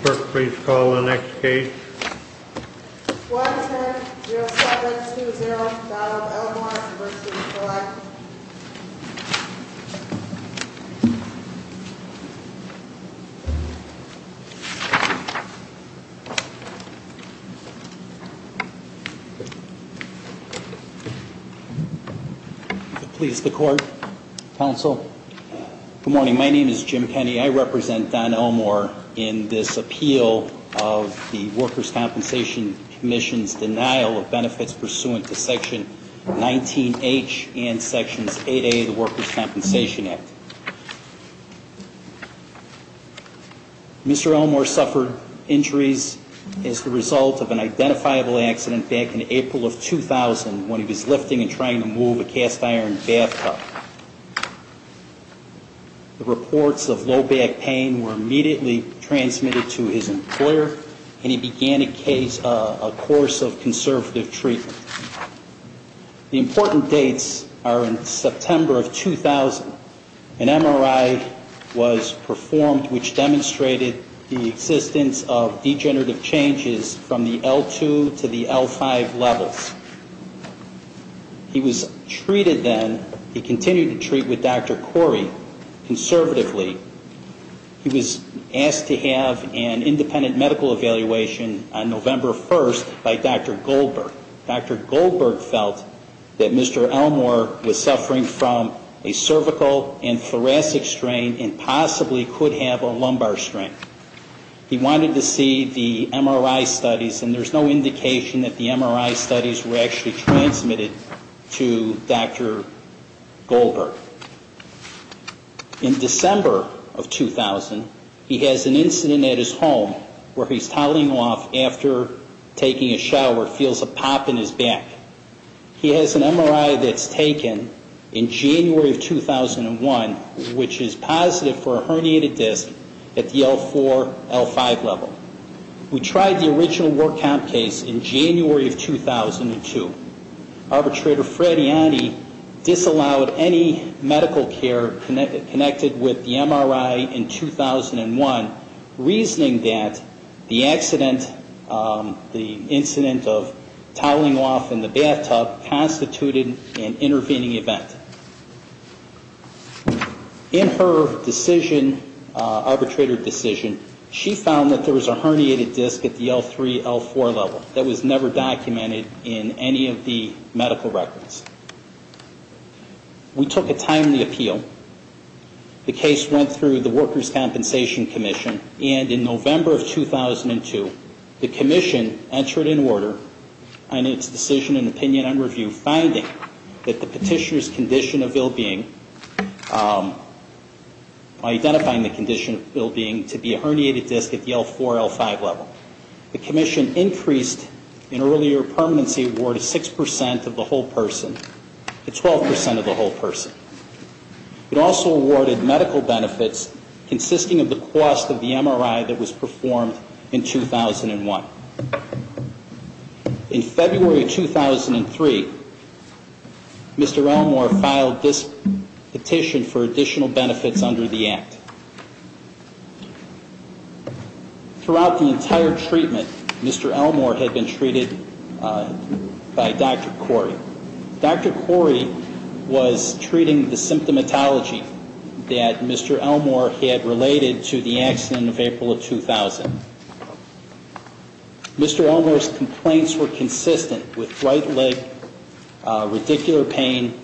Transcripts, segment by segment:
Clerk, please call the next case. Squadron 10-0720 Donald Elmore v. Collette Please, the court, counsel. Good morning. My name is Jim Penney. I represent Don Elmore in this appeal of the Workers' Compensation Commission's denial of benefits pursuant to Section 19H and Sections 8A of the Workers' Compensation Act. Mr. Elmore suffered injuries as the result of an identifiable accident back in April of 2000 when he was lifting and trying to move a cast iron bathtub. The reports of low back pain were immediately transmitted to his employer and he began a course of conservative treatment. The important dates are in September of 2000. An MRI was performed which demonstrated the existence of degenerative changes from the L2 to the L5 levels. He was treated then, he continued to treat with Dr. Corey conservatively. He was asked to have an independent medical evaluation on November 1st by Dr. Goldberg. Dr. Goldberg felt that Mr. Elmore was suffering from a cervical and thoracic strain and possibly could have a lumbar strain. He wanted to see the MRI studies and there's no indication that the MRI studies were actually transmitted to Dr. Goldberg. In December of 2000, he has an incident at his home where he's toweling off after taking a shower, feels a pop in his back. He has an MRI that's taken in January of 2001, which is positive for a herniated disc at the L4, L5 level. We tried the original work out case in January of 2002. Arbitrator Fred Ianni disallowed any medical care connected with the MRI in 2001, reasoning that the accident, the incident of toweling off in the bathroom, the bathtub, constituted an intervening event. In her decision, arbitrator decision, she found that there was a herniated disc at the L3, L4 level that was never documented in any of the medical records. We took a timely appeal. The case went through the Workers' Compensation Commission and in November of 2002, the commission entered in order on its decision in opinion and review, finding that the petitioner's condition of ill-being, identifying the condition of ill-being to be a herniated disc at the L4, L5 level. The commission increased an earlier permanency award of 6% of the whole person to 12% of the whole person. It also awarded medical benefits consisting of the cost of the MRI that was performed in 2001. In February of 2003, Mr. Elmore filed this petition for additional benefits under the act. Throughout the entire treatment, Mr. Elmore had been treated by Dr. Corey. Dr. Corey was treating the symptomatology that Mr. Elmore had related to the accident of April of 2000. Mr. Elmore's complaints were consistent with right leg radicular pain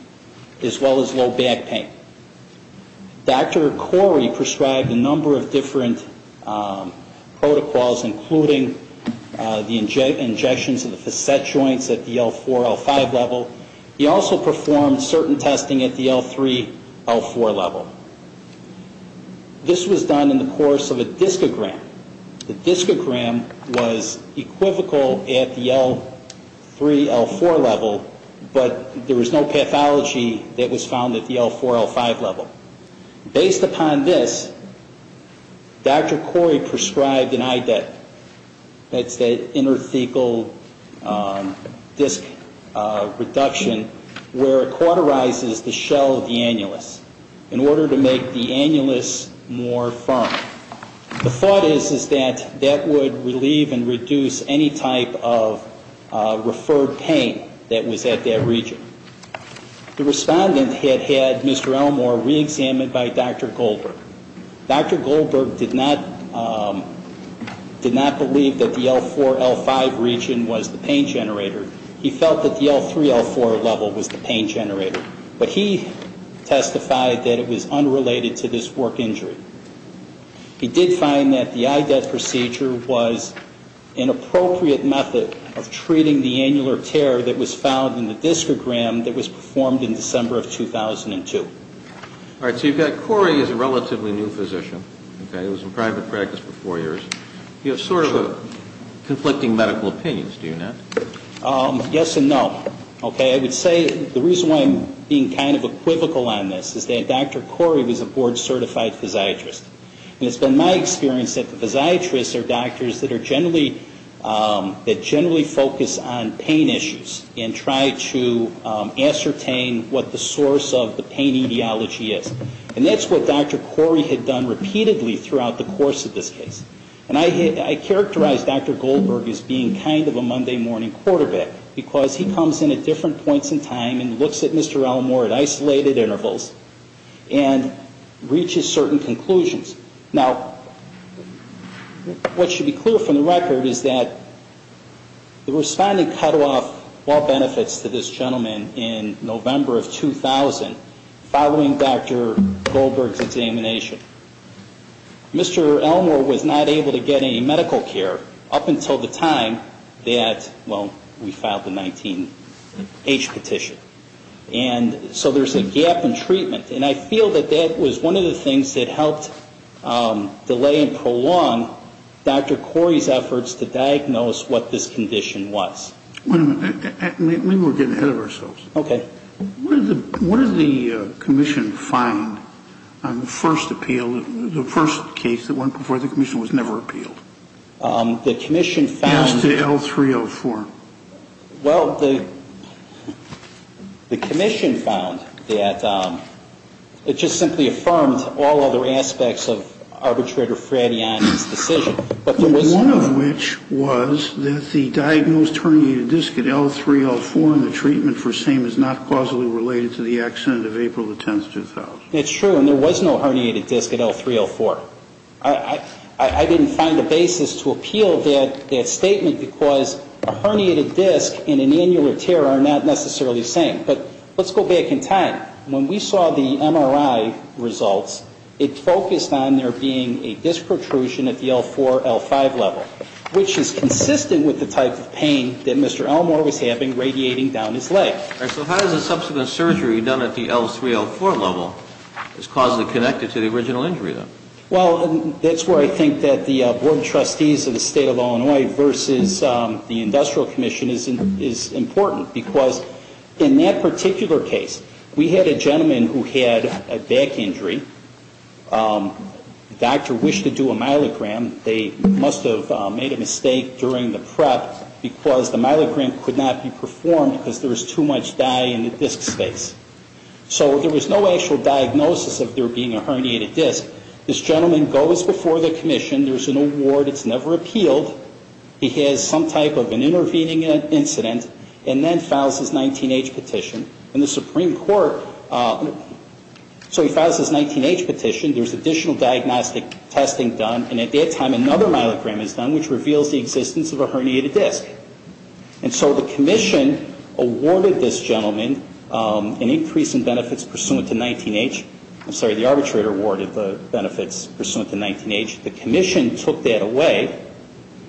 as well as low back pain. Dr. Corey prescribed a number of different protocols including the injections of the facet joints at the L4, L5 level, he also performed certain testing at the L3, L4 level. This was done in the course of a discogram. The discogram was equivocal at the L3, L4 level, but there was no pathology that was found at the L4, L5 level. Based upon this, Dr. Corey prescribed an IDEP. That's the interthecal disc reduction where it cauterizes the shell of the annulus in order to make the annulus more firm. The thought is that that would relieve and reduce any type of referred pain that was at that region. The respondent had had Mr. Elmore reexamined by Dr. Goldberg. Dr. Goldberg did not believe that the L4, L5 region was the pain generator. He felt that the L3, L4 level was the pain generator, but he testified that it was unrelated to this work injury. He did find that the IDEP procedure was an appropriate method of treating the annular tear that was found in the discogram that was performed in December of 2002. All right. So you've got Corey as a relatively new physician. Okay. It was in private practice for four years. You have sort of conflicting medical opinions, do you not? Yes and no. Okay. I would say the reason why I'm being kind of equivocal on this is that Dr. Corey was a board-certified physiatrist. And it's been my experience that the physiatrists are doctors that are generally, that generally focus on pain issues and try to ascertain what the source of the pain issue is. And that's what Dr. Corey had done repeatedly throughout the course of this case. And I characterize Dr. Goldberg as being kind of a Monday-morning quarterback, because he comes in at different points in time and looks at Mr. Elmore at isolated intervals and reaches certain conclusions. Now, what should be clear from the record is that the responding cut-off all benefits to this gentleman in November of 2000 found that there was a gap in treatment following Dr. Goldberg's examination. Mr. Elmore was not able to get any medical care up until the time that, well, we filed the 19-H petition. And so there's a gap in treatment. And I feel that that was one of the things that helped delay and prolong Dr. Corey's efforts to diagnose what this condition was. Wait a minute. Maybe we're getting ahead of ourselves. Okay. What did the commission find on the first appeal, the first case that went before the commission was never appealed? As to L3-L4? Well, the commission found that it just simply affirmed all other aspects of Arbitrator Fradiani's decision. One of which was that the diagnosed herniated disc at L3-L4 in the treatment for same is not causally related to the accident of April 10, 2000. That's true. And there was no herniated disc at L3-L4. I didn't find a basis to appeal that statement because a herniated disc and an annular tear are not necessarily the same. But let's go back in time. When we saw the MRI results, it focused on there being a disc protrusion at the L4-L5 level, which is consistent with the type of pain that Mr. Elmore was having radiating down his leg. So how does the subsequent surgery done at the L3-L4 level is causally connected to the original injury, then? Well, that's where I think that the board of trustees of the state of Illinois versus the industrial commission is important. Because in that particular case, we had a gentleman who had a back injury. The doctor wished to do a myelogram. They must have made a mistake during the prep because the myelogram could not be performed because there was too much dye in the disc space. So there was no actual diagnosis of there being a herniated disc. This gentleman goes before the commission. There's an award. It's never appealed. He has some type of an intervening incident, and then files his 19-h petition. And the Supreme Court, so he files his 19-h petition. There's additional diagnostic testing done. And it is a herniated disc. By the time another myelogram is done which reveals the existence of a herniated disc. And so the commission awarded this gentleman an increase in benefits pursuant to 19-h, I'm sorry, the arbitrator awarded the benefits pursuant to 19-h. The commission took that away.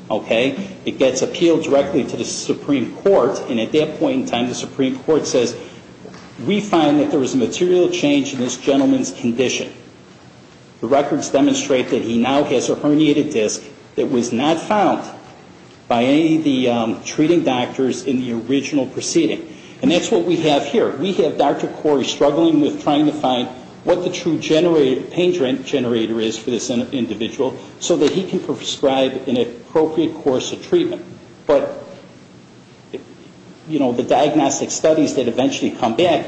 Okay? It gets appealed directly to the Supreme Court. And at that point in time, the Supreme Court says, we find that there was a material change in this gentleman's condition. The records demonstrate that he now has a herniated disc that was not found by any of the treating doctors in the original proceeding. And that's what we have here. We have Dr. Corey struggling with trying to find what the true pain generator is for this individual so that he can prescribe an appropriate course of treatment. But, you know, the diagnostic studies that eventually come back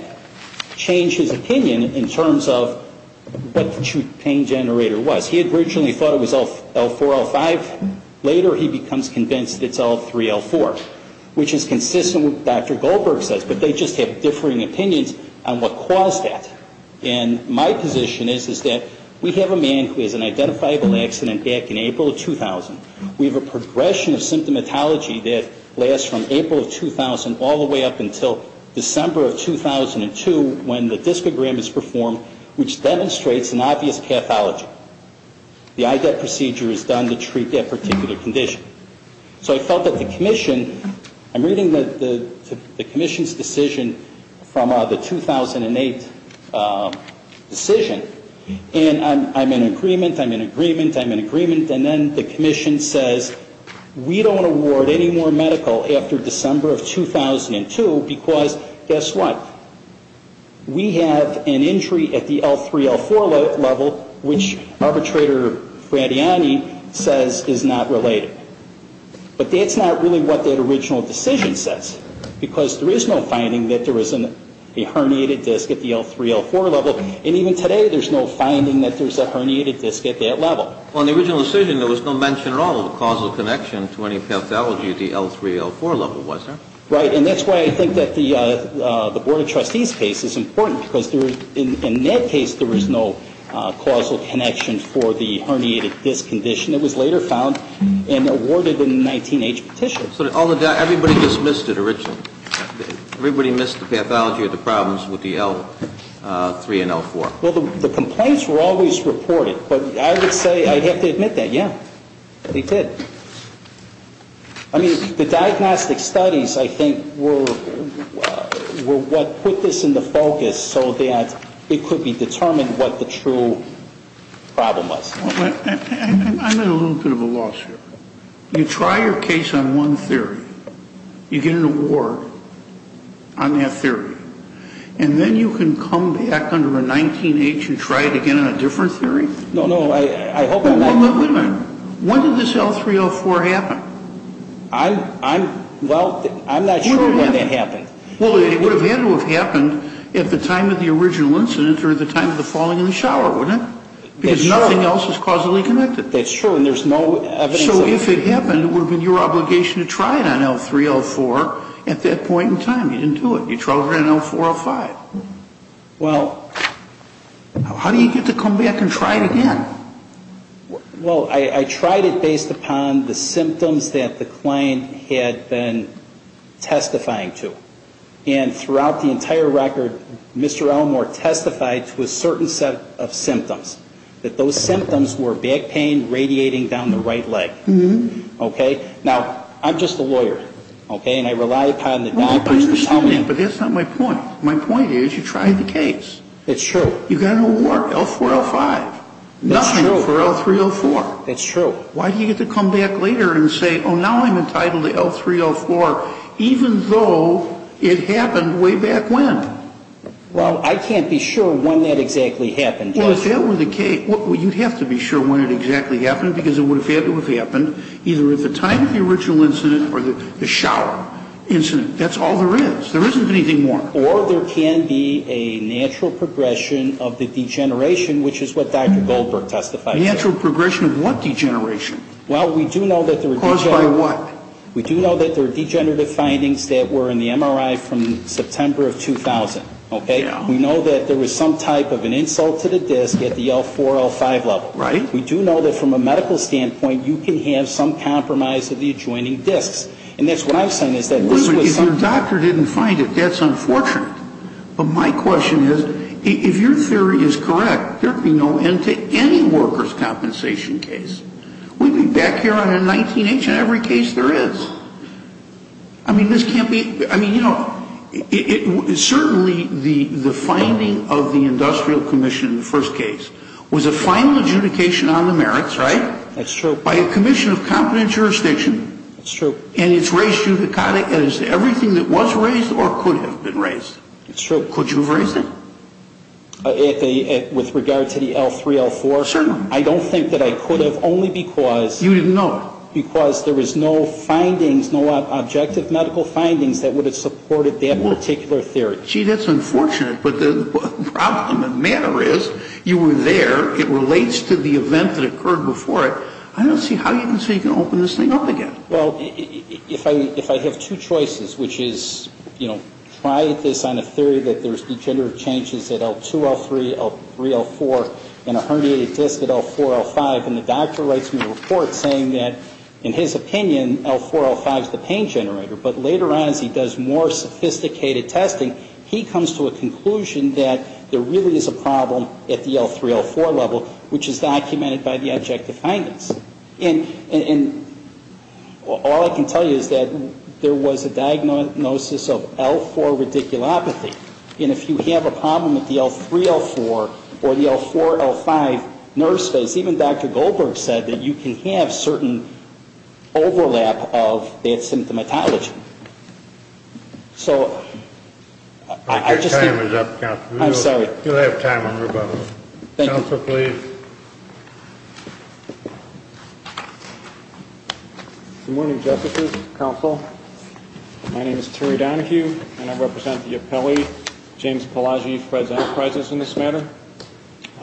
change his opinion in terms of, you know, is this a herniated disc? What the true pain generator was. He had originally thought it was L4, L5. Later he becomes convinced it's L3, L4. Which is consistent with what Dr. Goldberg says, but they just have differing opinions on what caused that. And my position is, is that we have a man who has an identifiable accident back in April of 2000. We have a progression of symptomatology that lasts from April of 2000 all the way up until December of 2002 when the discogram is performed, which demonstrates an obvious pathology. The IDET procedure is done to treat that particular condition. So I felt that the commission, I'm reading the commission's decision from the 2008 decision, and I'm in agreement, I'm in agreement, I'm in agreement, and then the commission says, we don't award any more medical after December of 2002 because, guess what? We have an injury at the L3, L4 level, which arbitrator Fradiani says is not related. But that's not really what that original decision says, because there is no finding that there was a herniated disc at the L3, L4 level, and even today there's no finding that there's a herniated disc at that level. On the original decision, there was no mention at all of a causal connection to any pathology at the L3, L4 level, was there? Right, and that's why I think that the Board of Trustees case is important, because in that case there was no causal connection for the herniated disc condition. It was later found and awarded in a 19-H petition. So everybody just missed it originally? Everybody missed the pathology or the problems with the L3 and L4? Well, the complaints were always reported, but I would say I'd have to admit that, yeah, they did. I mean, the diagnostic studies, I think, were what put this into focus so that it could be determined what the true problem was. I'm at a little bit of a loss here. You try your case on one theory, you get an award on that theory, and then you can come back under a 19-H and try it again on a different theory? No, no, I hope I'm not wrong. Wait a minute. When did this L3, L4 happen? Well, I'm not sure when that happened. Well, it would have had to have happened at the time of the original incident or at the time of the falling in the shower, wouldn't it? Because nothing else is causally connected. That's true, and there's no evidence of it. So if it happened, it would have been your obligation to try it on L3, L4 at that point in time. You didn't do it. You tried it on L4, L5. How do you get to come back and try it again? Well, I tried it based upon the symptoms that the client had been testifying to. And throughout the entire record, Mr. Elmore testified to a certain set of symptoms. That those symptoms were back pain radiating down the right leg. Now, I'm just a lawyer, and I rely upon the doctors to tell me... I understand that, but that's not my point. My point is you tried the case. You got an award, L4, L5. Nothing for L3, L4. Why do you get to come back later and say, oh, now I'm entitled to L3, L4, even though it happened way back when? Well, I can't be sure when that exactly happened. Well, you'd have to be sure when it exactly happened, because it would have had to have happened either at the time of the original incident or the shower incident. That's all there is. There isn't anything more. Or there can be a natural progression of the degeneration, which is what Dr. Goldberg testified to. Natural progression of what degeneration? Well, we do know that there are... Caused by what? We do know that there are degenerative findings that were in the MRI from September of 2000. We know that there was some type of an insult to the disc at the L4, L5 level. We do know that from a medical standpoint, you can have some compromise of the adjoining discs. And that's what I've seen is that this was some... Wait a minute. If your doctor didn't find it, that's unfortunate. But my question is, if your theory is correct, there could be no end to any workers' compensation case. We'd be back here on M19H in every case there is. I mean, this can't be... I mean, you know, certainly the finding of the industrial commission in the first case was a final adjudication on the merits, right? That's true. By a commission of competent jurisdiction. That's true. And it's raised judicata as everything that was raised or could have been raised. That's true. Could you have raised it? With regard to the L3, L4? Certainly. I don't think that I could have, only because... You didn't know it. Because there was no findings, no objective medical findings that would have supported that particular theory. Gee, that's unfortunate. But the problem, the matter is, you were there. It relates to the event that occurred before it. I don't see how you can say you can open this thing up again. Well, if I have two choices, which is, you know, try this on a theory that there's degenerative changes at L2, L3, L3, L4, and a herniated disc at L4, L5, and the doctor writes me a report saying that, in his opinion, L4, L5 is the pain generator, but later on as he does more sophisticated testing, he comes to a conclusion that there really is a problem at the L3, L4 level, which is documented by the objective findings. And all I can tell you is that there was a diagnosis of L4 radiculopathy. And if you have a problem at the L3, L4, or the L4, L5 nerve space, even Dr. Goldberg said that you can have certain overlap of that symptomatology. So, I just think... Your time is up, Counselor. I'm sorry. You'll have time on rebuttal. Thank you. Counselor, please. Good morning, Justices, Counsel. My name is Terry Donohue, and I represent the appellee, James Pelaggi, Fred's Enterprises in this matter.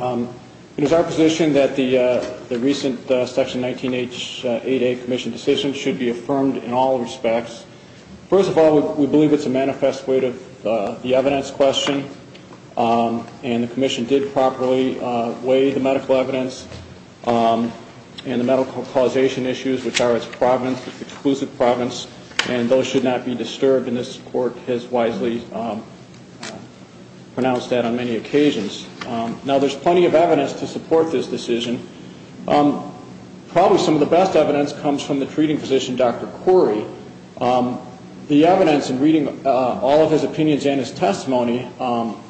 It is our position that the recent Section 19H 8A Commission decision should be affirmed in all respects. First of all, we believe it's a manifest way to... the evidence question, and the Commission did properly weigh the medical evidence and the medical causation issues, which are its providence, its exclusive providence, and those should not be disturbed, and this Court has wisely pronounced that on many occasions. Now, there's plenty of evidence to support this decision. Probably some of the best evidence comes from the treating physician, Dr. Corey. The evidence in reading all of his opinions and his testimony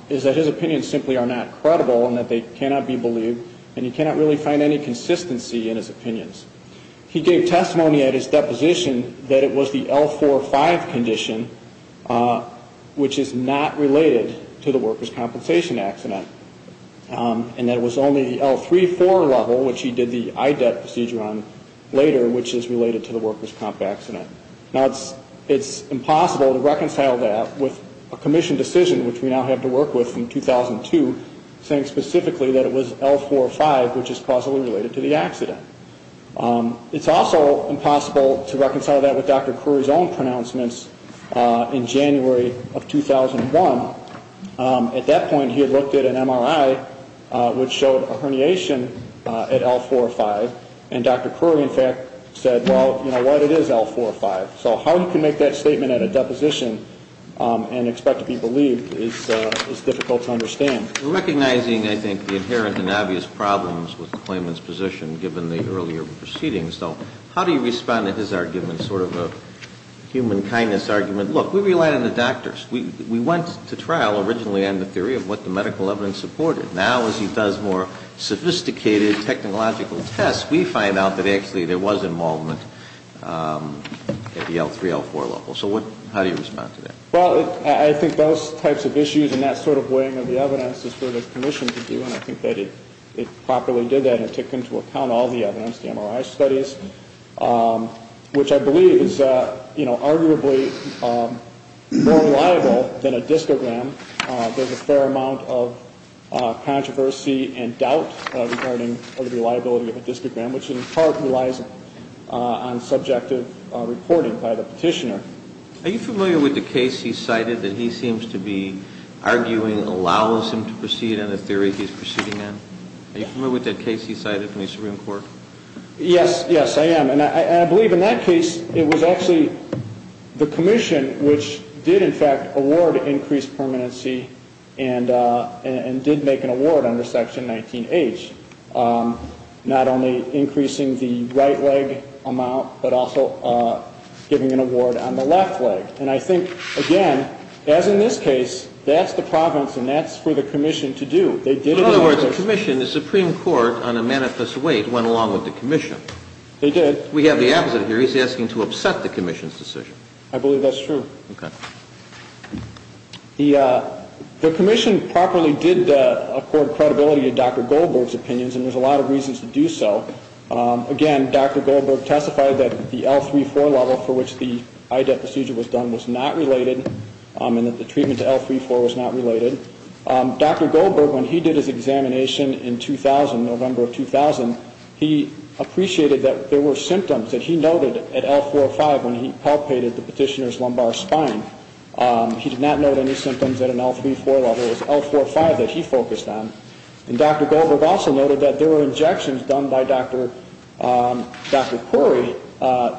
is that his opinions simply are not credible and that they cannot be believed, and you cannot really find any consistency in his opinions. He gave testimony at his deposition that it was the L-4-5 condition, which is not related to the workers' compensation accident, and that it was only the L-3-4 level, which he did the IDEP procedure on later, which is related to the workers' comp accident. Now, it's impossible to reconcile that with a Commission decision, which we now have to work with from 2002, saying specifically that it was L-4-5, which is causally related to the accident. It's also impossible to reconcile that with Dr. Corey's own pronouncements in January of 2001. At that point, he had looked at an MRI, which showed a herniation at L-4-5, and Dr. Corey, in fact, said, well, you know what, it is L-4-5. So how you can make that statement at a deposition and expect to be believed is difficult to understand. We're recognizing, I think, the inherent and obvious problems with the claimant's position, given the earlier proceedings. So how do you respond to his argument, sort of a human kindness argument? Look, we rely on the doctors. We went to trial originally on the theory of what the medical evidence supported. Now, as he does more sophisticated technological tests, we find out that actually there was involvement at the L-3, L-4 level. So how do you respond to that? Well, I think those types of issues and that sort of weighing of the evidence is for the Commission to do, and I think that it properly did that and took into account all the evidence, the MRI studies, which I believe is, you know, arguably more reliable than a discogram. There's a fair amount of controversy and doubt regarding the reliability of a discogram, which in part relies on subjective reporting by the petitioner. Are you familiar with the case he cited that he seems to be arguing allows him to proceed on the theory he's proceeding on? Are you familiar with that case he cited in the Supreme Court? Yes, yes, I am, and I believe in that case it was actually the Commission which did in fact award increased permanency and did make an award under Section 19H, not only increasing the right leg amount but also giving an award on the left leg. And I think, again, as in this case, that's the province and that's for the Commission to do. In other words, the Commission, the Supreme Court on a manifest weight went along with the Commission. They did. We have the opposite here. He's asking to upset the Commission's decision. I believe that's true. The Commission properly did accord credibility to Dr. Goldberg's opinions and there's a lot of reasons to do so. Again, Dr. Goldberg testified that the L3-4 level for which the IDET procedure was done was not related and that the treatment to L3-4 was not related. Dr. Goldberg, when he did his examination in 2000, November of 2000, he appreciated that there were symptoms that he noted at L4-5 when he palpated the petitioner's lumbar spine. He did not note any symptoms at an L3-4 level. It was L4-5 that he focused on. And Dr. Goldberg also noted that there were injections done by Dr. Puri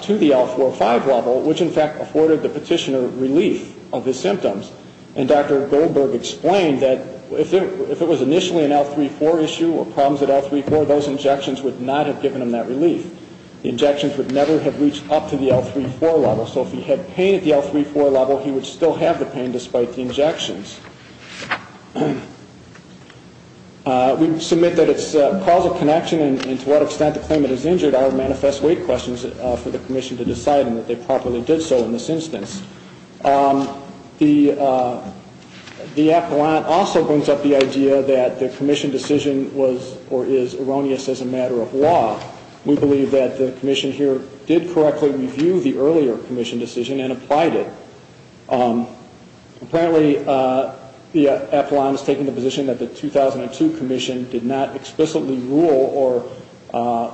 to the L4-5 level which, in fact, afforded the petitioner relief of his symptoms. And Dr. Goldberg explained that if it was initially an L3-4 issue or problems at L3-4, those injections would not have given him that relief. The injections would never have reached up to the L3-4 level. So if he had pain at the L3-4 level, he would still have the pain despite the injections. We submit that it's a cause of connection and to what extent the claimant is injured are manifest weight questions for the Commission to decide and that they properly did so in this instance. The appellant also brings up the idea that the Commission decision was or is erroneous as a matter of law. We believe that the Commission here did correctly review the earlier Commission decision and applied it. Apparently the appellant is taking the position that the 2002 Commission did not explicitly rule or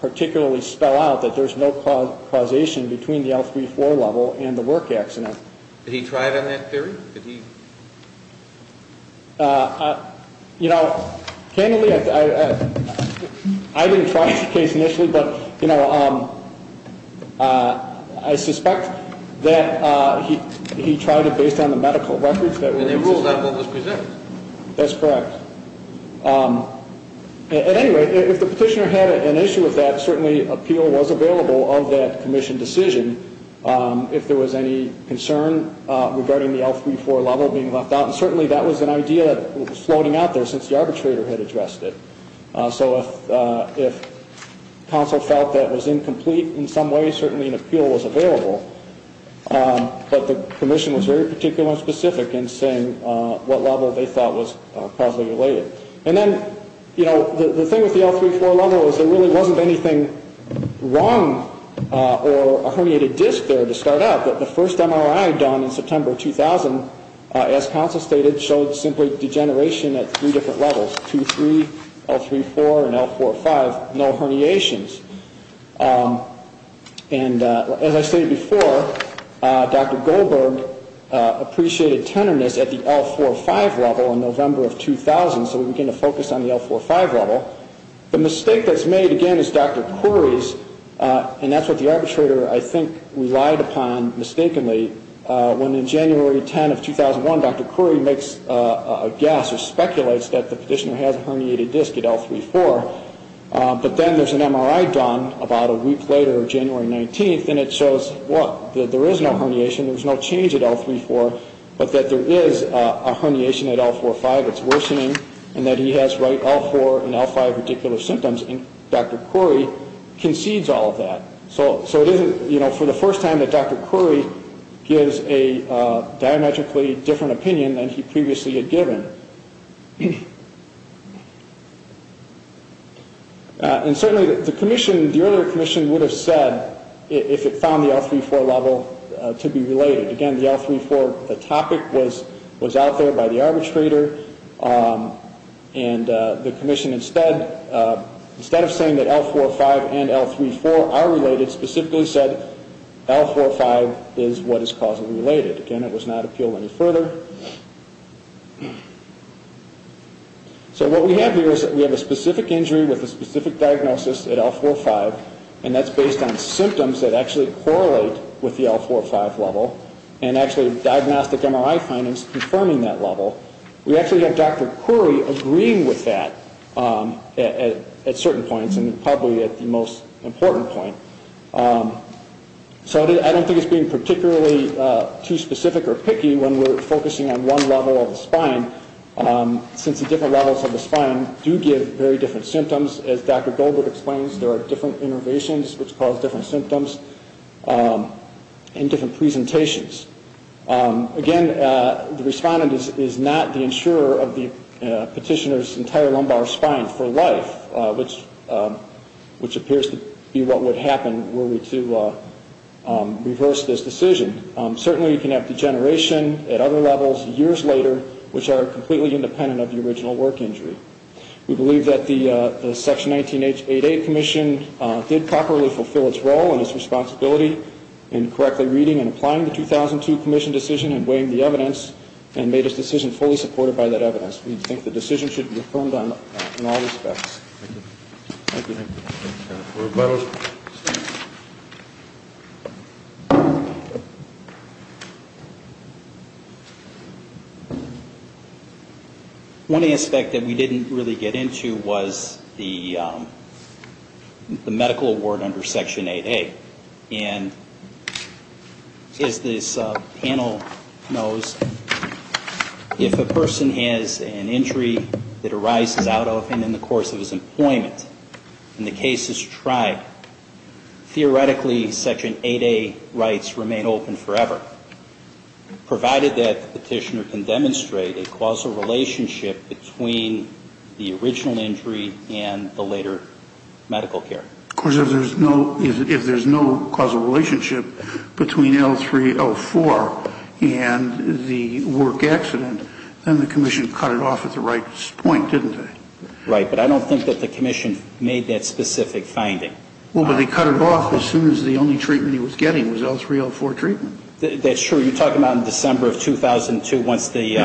particularly spell out that there's no causation between the L3-4 level and the work accident. Did he try it on that theory? You know, candidly, I didn't try the case initially but, you know, I suspect that he tried it based on the medical records. And he ruled out what was presented. That's correct. At any rate, if the petitioner had an issue with that, certainly appeal was available of that Commission decision if there was any concern regarding the L3-4 level being left out and certainly that was an idea floating out there since the arbitrator had addressed it. So if counsel felt that was incomplete in some way certainly an appeal was available but the Commission was very particular and specific in saying what level they thought was causally related. And then, you know, the thing with the L3-4 level was there really wasn't anything wrong or a herniated disc there to start out but the first MRI done in September 2000 as counsel stated showed simply degeneration at three different levels 2-3, L3-4 and L4-5 no herniations. And as I stated before Dr. Goldberg appreciated tenderness at the L4-5 level in November of 2000 so we begin to focus on the L4-5 level. The mistake that's made again is Dr. Khoury's and that's what the arbitrator, I think, relied upon mistakenly when in January 10 of 2001 Dr. Khoury makes a guess or speculates that the petitioner has a herniated disc at L3-4 but then there's an MRI done about a week later, January 19 and it shows what? There is no herniation, there's no change at L3-4 but that there is a herniation at L4-5 that's worsening and that he has right L4 and L5 particular symptoms and Dr. Khoury concedes all of that. So it isn't, you know, for the first time that Dr. Khoury gives a diametrically different opinion than he previously had given. And certainly the earlier commission would have said if it found the L3-4 level to be related. Again, the L3-4 topic was out there by the arbitrator and the commission instead of saying that L4-5 and L3-4 are related, specifically said L4-5 is what is causally related. Again, it was not appealed any further. So what we have here is that we have a specific injury with a specific diagnosis at L4-5 and that's based on symptoms that actually correlate with the L4-5 level and actually diagnostic MRI findings confirming that level. We actually have Dr. Khoury agreeing with that at certain points important point. So I don't think it's being particularly too specific or picky when we're focusing on one level of the spine since the different levels of the spine do give very different symptoms. As Dr. Goldberg explains, there are different innervations which cause different symptoms and different presentations. Again, the respondent is not the insurer of the petitioner's entire lumbar spine for life which appears to be what would happen were we to reverse this decision. Certainly, you can have degeneration at other levels years later which are completely independent of the original work injury. We believe that the Section 19H88 Commission did properly fulfill its role and its responsibility in correctly reading and applying the 2002 Commission decision and weighing the evidence and made its decision fully supported by that evidence. We think the decision should be affirmed in all respects. One aspect that we didn't really get into was the medical award under Section 8A and as this panel knows, if a person has an injury that arises out of and in the course of his employment and the case is tried, theoretically Section 8A rights remain open for the patient forever provided that the petitioner can demonstrate a causal relationship between the original injury and the later medical care. Of course, if there's no causal relationship between L3-L4 and the work accident, then the Commission cut it off at the right point, didn't they? Right, but I don't think that the Commission made that specific finding. Well, but they cut it off as soon as the only L3-L4 treatment. That's true. You're talking about in December of 2002 once the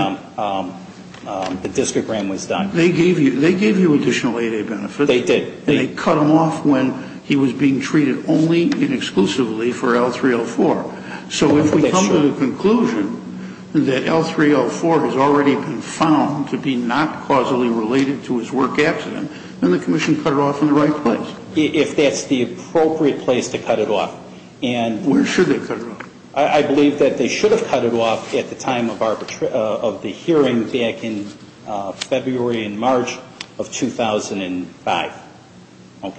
district grant was done. They gave you additional 8A benefits. They did. And they cut them off when he was being treated only and exclusively for L3-L4. So if we come to the conclusion that L3-L4 has already been found to be not causally related to his work accident, then the Commission cut it off in the right place. If that's the appropriate place to cut it off. Where should they cut it off? I believe that they should have cut it off at the time of the hearing back in February and March of 2005. Why?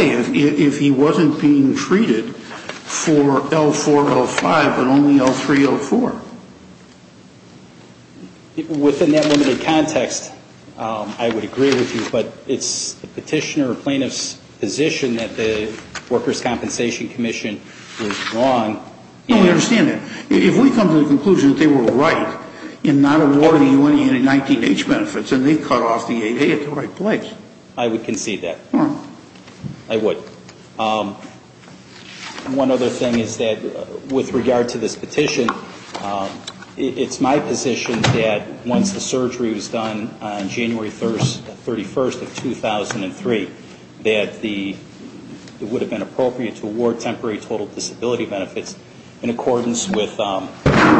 If he wasn't being treated for L4-L5 and only L3-L4? Within that limited context I would agree with you, but it's the petitioner or plaintiff's position that the Workers' Compensation Commission was wrong. No, we understand that. If we come to the conclusion that they were right in not awarding you any 19-H benefits and they cut off the 8A at the right place. I would concede that. I would. One other thing is that with regard to this petition it's my position that once the surgery was done on January 31st of 2003 that it would have been appropriate to award temporary total disability benefits in accordance with the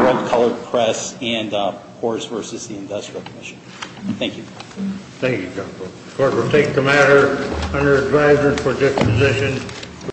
World Colored Press and Horace v. The Industrial Commission. Thank you. The Court will take the matter under advisory for disposition.